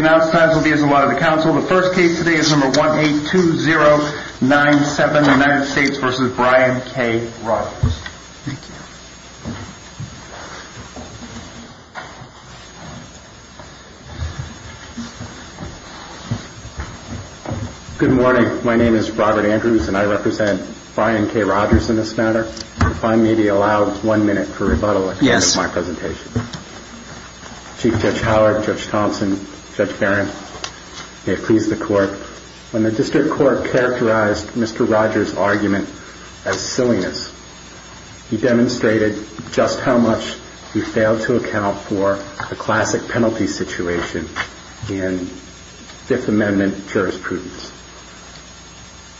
Good morning. My name is Robert Andrews and I represent Brian K. Rogers in this matter. If I may be allowed one minute for rebuttal at the end of my presentation. Chief Judge Howard, Judge Thompson, Judge Barron, may it please the court. When the district court characterized Mr. Rogers' argument as silliness, he demonstrated just how much we fail to account for the classic penalty situation in Fifth Amendment jurisprudence.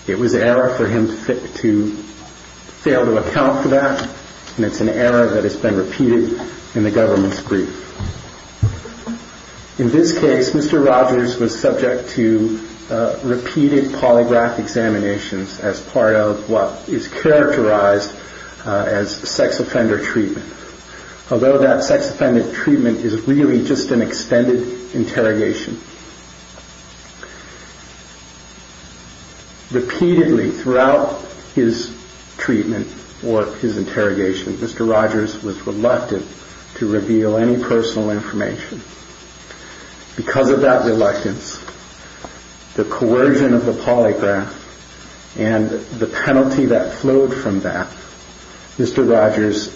It was an error for him to fail to account for that. And it's an error that has been repeated in the government's brief. In this case, Mr. Rogers was subject to repeated polygraph examinations as part of what is characterized as sex offender treatment. Although that sex offender treatment is really just an extended interrogation. Repeatedly throughout his treatment or his interrogation, Mr. Rogers was reluctant to reveal any personal information. Because of that reluctance, the coercion of the polygraph and the penalty that flowed from that, Mr. Rogers'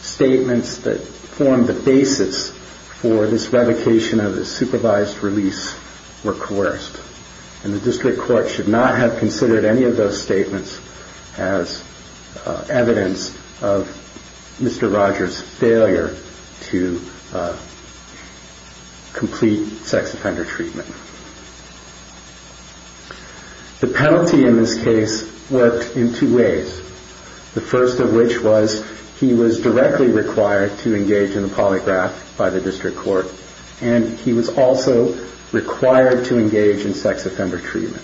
statements that formed the basis for this revocation of the supervised release were coerced. And the district court should not have considered any of those statements as evidence of Mr. Rogers' failure to complete sex offender treatment. The penalty in this case worked in two ways. The first of which was he was directly required to engage in the polygraph by the district court. And he was also required to engage in sex offender treatment.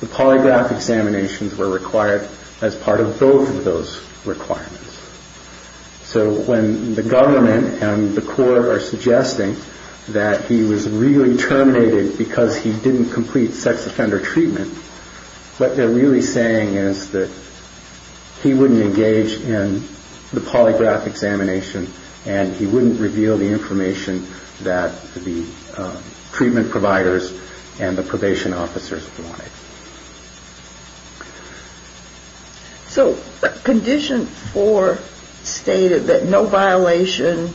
The polygraph examinations were required as part of both of those requirements. So when the government and the court are suggesting that he was really terminated because he didn't complete sex offender treatment, what they're really saying is that he wouldn't engage in the polygraph examination and he wouldn't reveal the information that the treatment providers and the probation officers wanted. So Condition 4 stated that no violation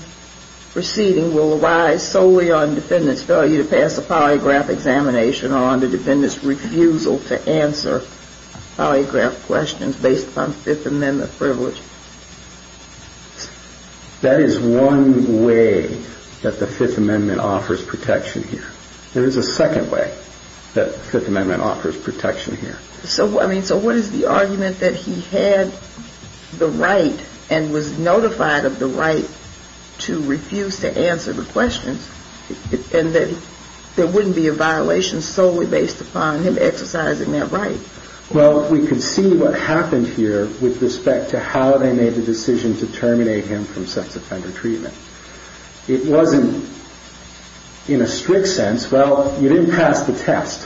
proceeding will arise solely on defendant's failure to pass a polygraph examination or on the defendant's refusal to answer polygraph questions based upon Fifth Amendment privilege. That is one way that the Fifth Amendment offers protection here. There is a second way that the Fifth Amendment offers protection here. So what is the argument that he had the right and was notified of the right to refuse to answer the questions and that there wouldn't be a violation solely based upon him exercising that right? Well, we can see what happened here with respect to how they made the decision to terminate him from sex offender treatment. It wasn't in a strict sense. Well, you didn't pass the test.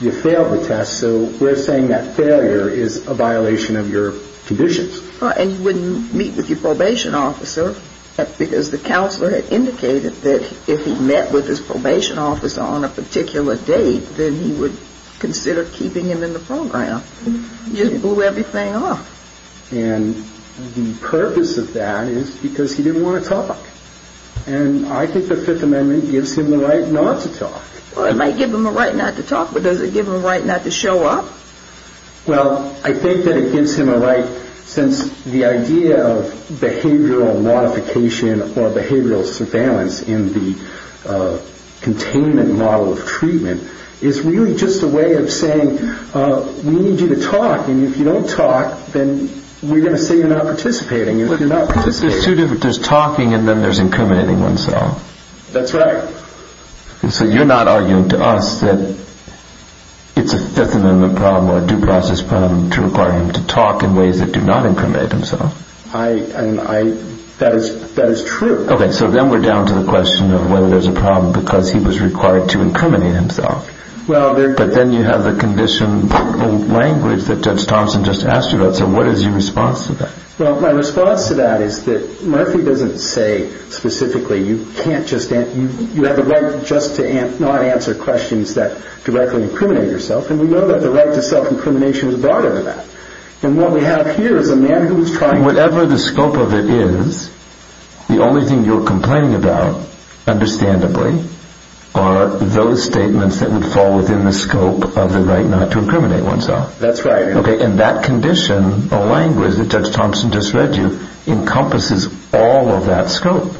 You failed the test. So we're saying that failure is a violation of your conditions. And you wouldn't meet with your probation officer because the counselor had indicated that if he met with his probation officer on a particular date, then he would consider keeping him in the program. You blew everything off. And the purpose of that is because he didn't want to talk. And I think the Fifth Amendment gives him the right not to talk. Well, it might give him a right not to talk, but does it give him a right not to show up? Well, I think that it gives him a right since the idea of behavioral modification or behavioral surveillance in the containment model of treatment is really just a way of saying, we need you to talk, and if you don't talk, then we're going to say you're not participating. If you're not participating. There's two different, there's talking and then there's incriminating oneself. That's right. So you're not arguing to us that it's a Fifth Amendment problem or a due process problem to require him to talk in ways that do not incriminate himself. I, and I, that is, that is true. Okay, so then we're down to the question of whether there's a problem because he was required to incriminate himself. But then you have the condition language that Judge Thompson just asked you about. So what is your response to that? Well, my response to that is that Murphy doesn't say specifically you can't just, you have the right just to not answer questions that directly incriminate yourself. And we know that the right to self-incrimination is broader than that. And what we have here is a man who is trying to. Whatever the scope of it is, the only thing you're complaining about, understandably, are those statements that would fall within the scope of the right not to incriminate oneself. That's right. Okay, and that condition or language that Judge Thompson just read you encompasses all of that scope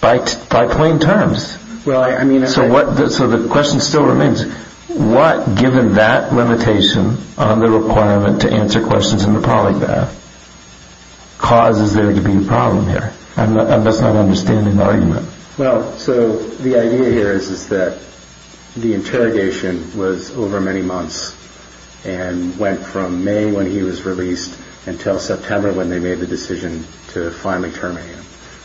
by plain terms. Well, I mean. So what, so the question still remains. What, given that limitation on the requirement to answer questions in the polygraph, causes there to be a problem here? I'm just not understanding the argument. Well, so the idea here is that the interrogation was over many months and went from May when he was released until September when they made the decision to finally terminate him.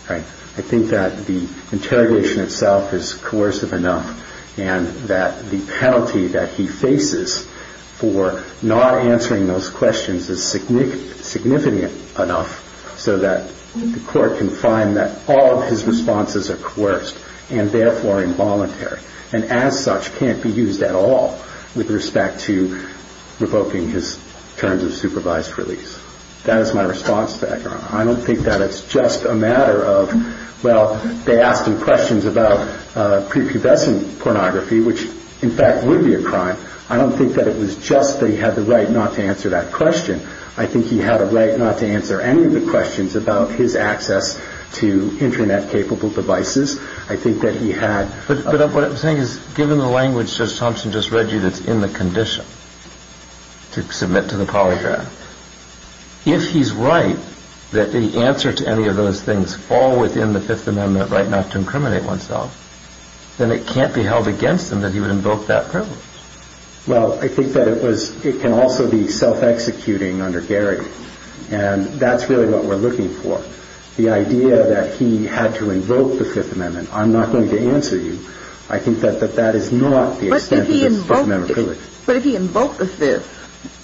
Right. I think that the interrogation itself is coercive enough and that the penalty that he faces for not answering those questions is significant enough so that the court can find that all of his responses are coerced and therefore involuntary and as such can't be used at all with respect to revoking his terms of supervised release. That is my response to that. I don't think that it's just a matter of, well, they asked him questions about prepubescent pornography, which in fact would be a crime. I don't think that it was just that he had the right not to answer that question. I think he had a right not to answer any of the questions about his access to Internet-capable devices. I think that he had... But what I'm saying is, given the language Judge Thompson just read you that's in the condition to submit to the polygraph, if he's right that the answer to any of those things fall within the Fifth Amendment right not to incriminate oneself, then it can't be held against him that he would invoke that privilege. Well, I think that it can also be self-executing under Garrick, and that's really what we're looking for. The idea that he had to invoke the Fifth Amendment, I'm not going to answer you. I think that that is not the extent of his Fifth Amendment privilege. But if he invoked the Fifth,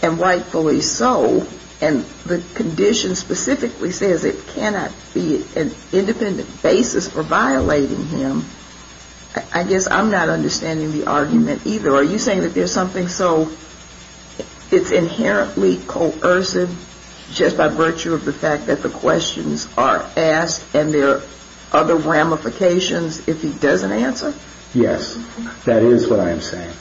and rightfully so, and the condition specifically says it cannot be an independent basis for violating him, I guess I'm not understanding the argument either. Are you saying that there's something so... It's inherently coercive just by virtue of the fact that the questions are asked, and there are other ramifications if he doesn't answer? Yes, that is what I am saying.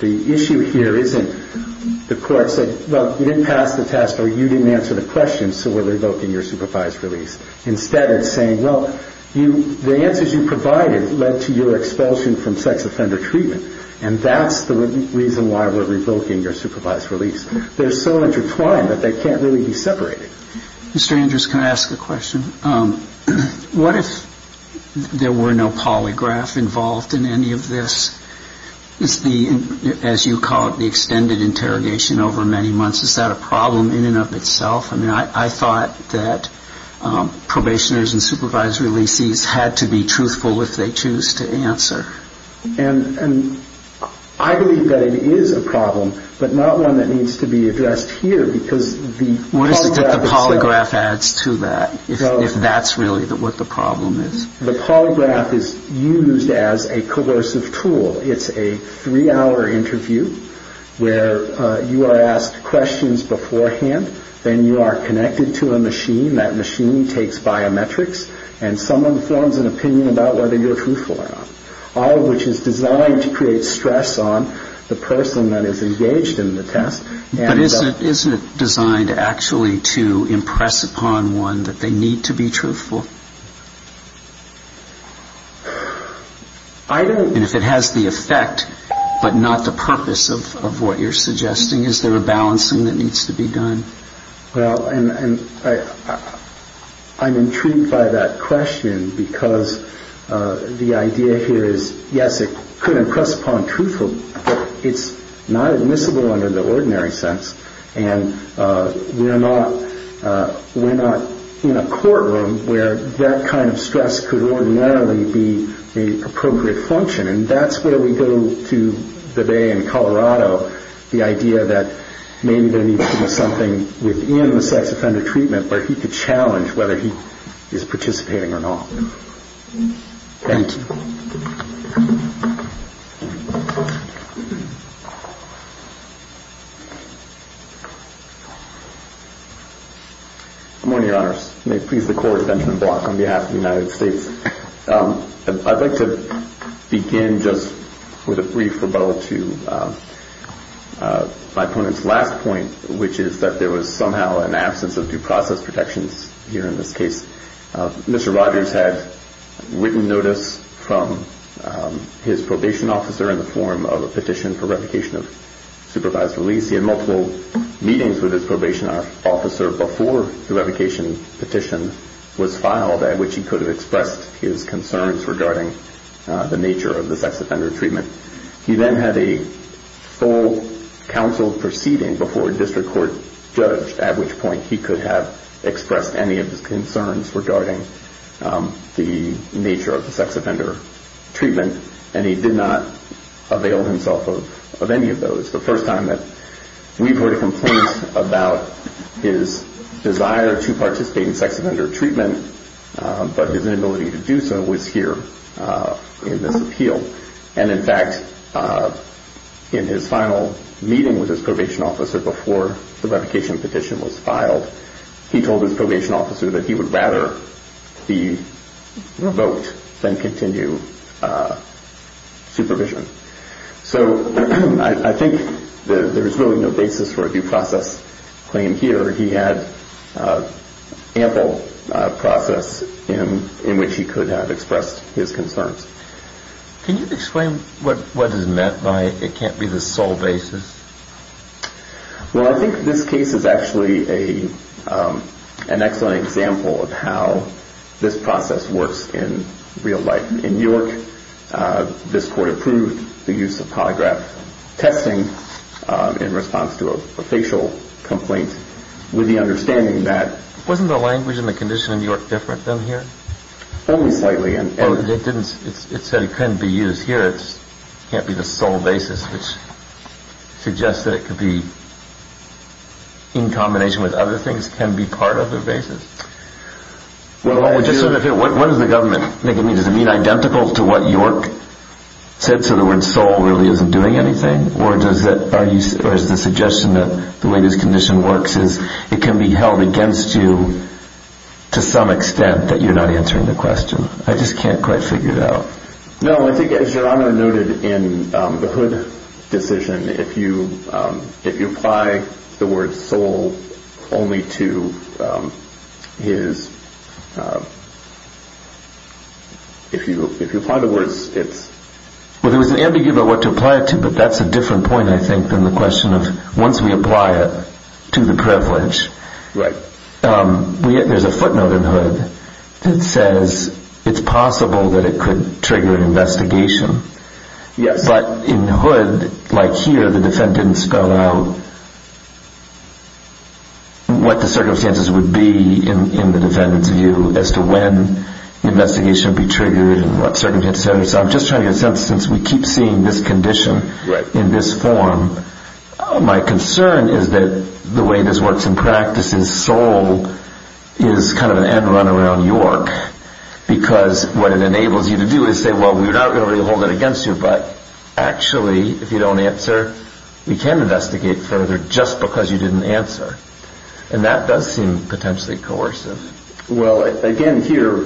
The issue here isn't the court said, well, you didn't pass the test, or you didn't answer the questions, so we're revoking your supervised release. Instead it's saying, well, the answers you provided led to your expulsion from sex offender treatment. And that's the reason why we're revoking your supervised release. They're so intertwined that they can't really be separated. Mr. Andrews, can I ask a question? What if there were no polygraph involved in any of this? Is the, as you call it, the extended interrogation over many months, is that a problem in and of itself? I mean, I thought that probationers and supervised releasees had to be truthful if they choose to answer. And I believe that it is a problem, but not one that needs to be addressed here, because the polygraph itself... What is it that the polygraph adds to that, if that's really what the problem is? The polygraph is used as a coercive tool. It's a three-hour interview where you are asked questions beforehand, then you are connected to a machine, that machine takes biometrics, and someone forms an opinion about whether you're truthful or not, all of which is designed to create stress on the person that is engaged in the test. But isn't it designed actually to impress upon one that they need to be truthful? I don't... And if it has the effect, but not the purpose of what you're suggesting, is there a balancing that needs to be done? Well, and I'm intrigued by that question, because the idea here is, yes, it could impress upon truthful, but it's not admissible under the ordinary sense, and we're not in a courtroom where that kind of stress could ordinarily be the appropriate function. And that's where we go to today in Colorado, the idea that maybe there needs to be something within the sex offender treatment where he could challenge whether he is participating or not. Thank you. Good morning, Your Honors. May it please the Court, Benjamin Block on behalf of the United States. I'd like to begin just with a brief rebuttal to my opponent's last point, which is that there was somehow an absence of due process protections here in this case. Mr. Rogers had written notice from his probation officer in the form of a petition for revocation of supervised release. He had multiple meetings with his probation officer before the revocation petition was filed, at which he could have expressed his concerns regarding the nature of the sex offender treatment. He then had a full counsel proceeding before a district court judge, at which point he could have expressed any of his concerns regarding the nature of the sex offender treatment, and he did not avail himself of any of those. This is the first time that we've heard a complaint about his desire to participate in sex offender treatment, but his inability to do so was here in this appeal. And, in fact, in his final meeting with his probation officer before the revocation petition was filed, he told his probation officer that he would rather be revoked than continue supervision. So I think there is really no basis for a due process claim here. He had ample process in which he could have expressed his concerns. Can you explain what is meant by it can't be the sole basis? Well, I think this case is actually an excellent example of how this process works in real life. In New York, this court approved the use of polygraph testing in response to a facial complaint with the understanding that. Wasn't the language and the condition in New York different than here? Only slightly. It said it couldn't be used here. It can't be the sole basis, which suggests that it could be in combination with other things. It can be part of the basis. What does the government think it means? Does it mean identical to what York said, so the word sole really isn't doing anything? Or is the suggestion that the way this condition works is it can be held against you to some extent that you're not answering the question? I just can't quite figure it out. No, I think as your honor noted in the hood decision, if you if you apply the word sole only to his. If you if you apply the words, it's well, there was an ambiguity about what to apply it to. But that's a different point, I think, than the question of once we apply it to the privilege. Right. There's a footnote in the hood that says it's possible that it could trigger an investigation. Yes. But in the hood, like here, the defendant didn't spell out. What the circumstances would be in the defendant's view as to when the investigation would be triggered and what circumstances. So I'm just trying to get a sense since we keep seeing this condition in this form. My concern is that the way this works in practice in Seoul is kind of an end run around York, because what it enables you to do is say, well, we're not going to hold it against you. But actually, if you don't answer, we can investigate further just because you didn't answer. And that does seem potentially coercive. Well, again, here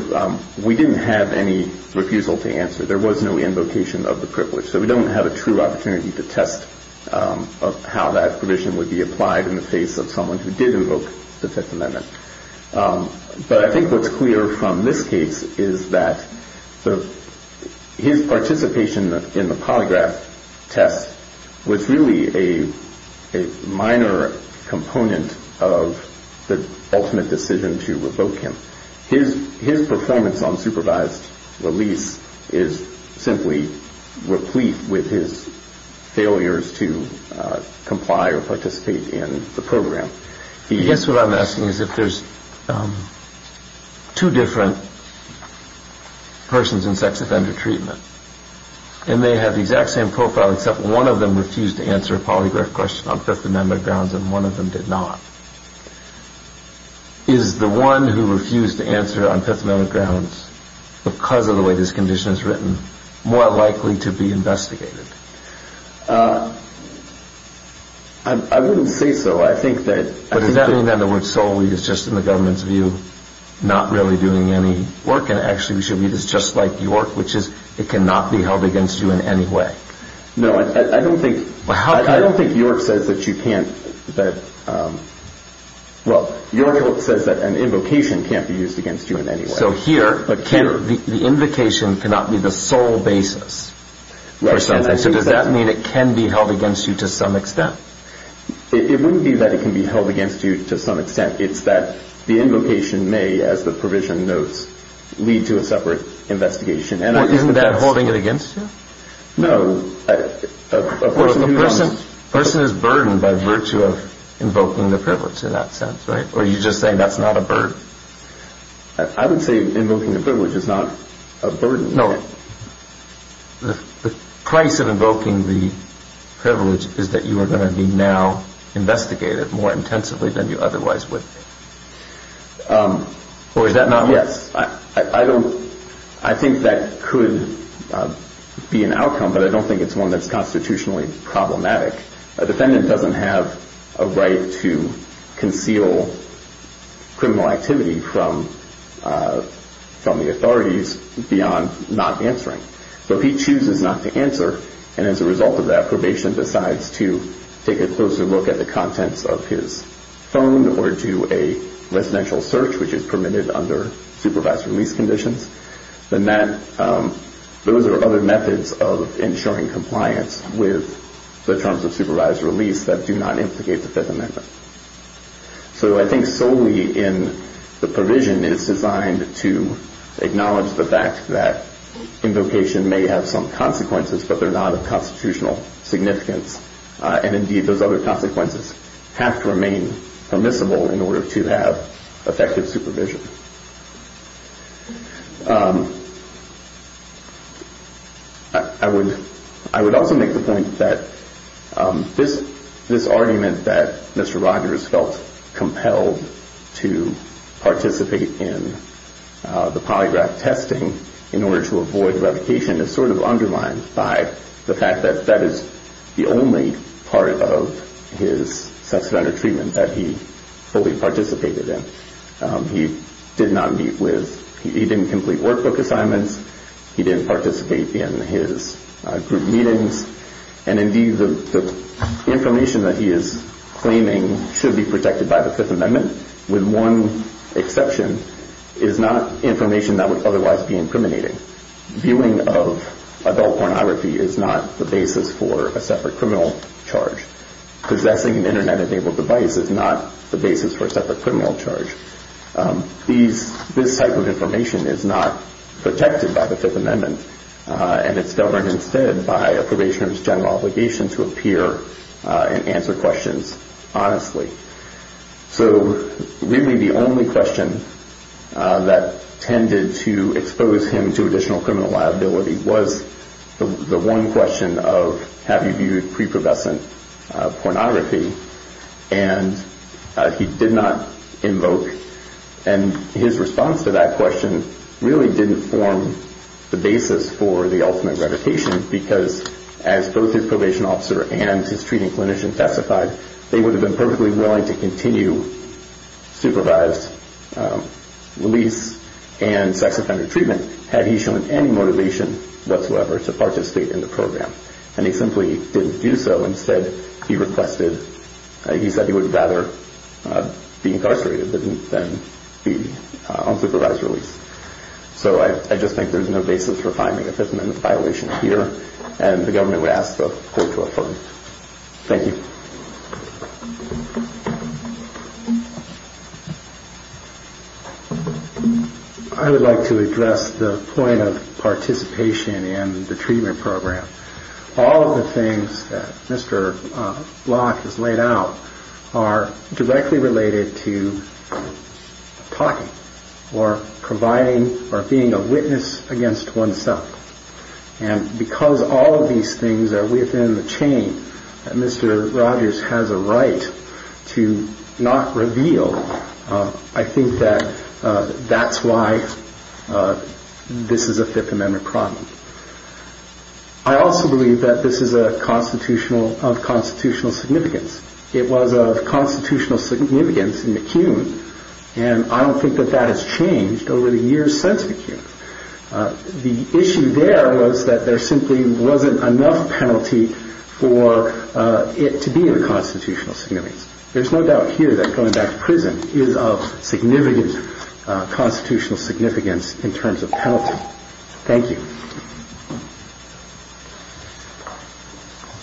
we didn't have any refusal to answer. There was no invocation of the privilege. So we don't have a true opportunity to test how that provision would be applied in the face of someone who did invoke the Fifth Amendment. But I think what's clear from this case is that his participation in the polygraph test was really a minor component of the ultimate decision to revoke him. His performance on supervised release is simply replete with his failures to comply or participate in the program. I guess what I'm asking is if there's two different persons in sex offender treatment and they have the exact same profile, except one of them refused to answer a polygraph question on Fifth Amendment grounds and one of them did not. Is the one who refused to answer on Fifth Amendment grounds because of the way this condition is written more likely to be investigated? I wouldn't say so. I think that. But does that mean that the word solely is just in the government's view, not really doing any work? And actually, we should be just like York, which is it cannot be held against you in any way. No, I don't think. I don't think York says that you can't. Well, York says that an invocation can't be used against you in any way. So here the invocation cannot be the sole basis. So does that mean it can be held against you to some extent? It wouldn't be that it can be held against you to some extent. It's that the invocation may, as the provision notes, lead to a separate investigation. Isn't that holding it against you? No. A person is burdened by virtue of invoking the privilege in that sense, right? Or are you just saying that's not a burden? I would say invoking the privilege is not a burden. No. The price of invoking the privilege is that you are going to be now investigated more intensively than you otherwise would. Or is that not what? Yes. I think that could be an outcome, but I don't think it's one that's constitutionally problematic. A defendant doesn't have a right to conceal criminal activity from the authorities beyond not answering. So he chooses not to answer, and as a result of that, probation decides to take a closer look at the contents of his phone or do a residential search, which is permitted under supervised release conditions. Those are other methods of ensuring compliance with the terms of supervised release that do not implicate the Fifth Amendment. So I think solely in the provision, it's designed to acknowledge the fact that invocation may have some consequences, but they're not of constitutional significance. And indeed, those other consequences have to remain permissible in order to have effective supervision. I would also make the point that this argument that Mr. Rogers felt compelled to participate in the polygraph testing in order to avoid revocation is sort of underlined by the fact that that is the only part of his substantive treatment that he fully participated in. He didn't complete workbook assignments. He didn't participate in his group meetings. And indeed, the information that he is claiming should be protected by the Fifth Amendment, with one exception, is not information that would otherwise be incriminating. Viewing of adult pornography is not the basis for a separate criminal charge. Possessing an Internet-enabled device is not the basis for a separate criminal charge. This type of information is not protected by the Fifth Amendment, and it's governed instead by a probationer's general obligation to appear and answer questions honestly. So really, the only question that tended to expose him to additional criminal liability was the one question of, have you viewed preprobation pornography? And he did not invoke, and his response to that question really didn't form the basis for the ultimate revocation, because as both his probation officer and his treating clinician testified, they would have been perfectly willing to continue supervised release and sex offender treatment had he shown any motivation whatsoever to participate in the program. And he simply didn't do so. Instead, he said he would rather be incarcerated than be on supervised release. So I just think there's no basis for finding a Fifth Amendment violation here, and the government would ask the court to affirm. Thank you. I would like to address the point of participation in the treatment program. All of the things that Mr. Locke has laid out are directly related to talking or providing or being a witness against oneself. And because all of these things are within the chain that Mr. Rogers has a right to not reveal, I think that that's why this is a Fifth Amendment problem. I also believe that this is of constitutional significance. It was of constitutional significance in McCune, and I don't think that that has changed over the years since McCune. The issue there was that there simply wasn't enough penalty for it to be of constitutional significance. There's no doubt here that going back to prison is of significant constitutional significance in terms of penalty. Thank you.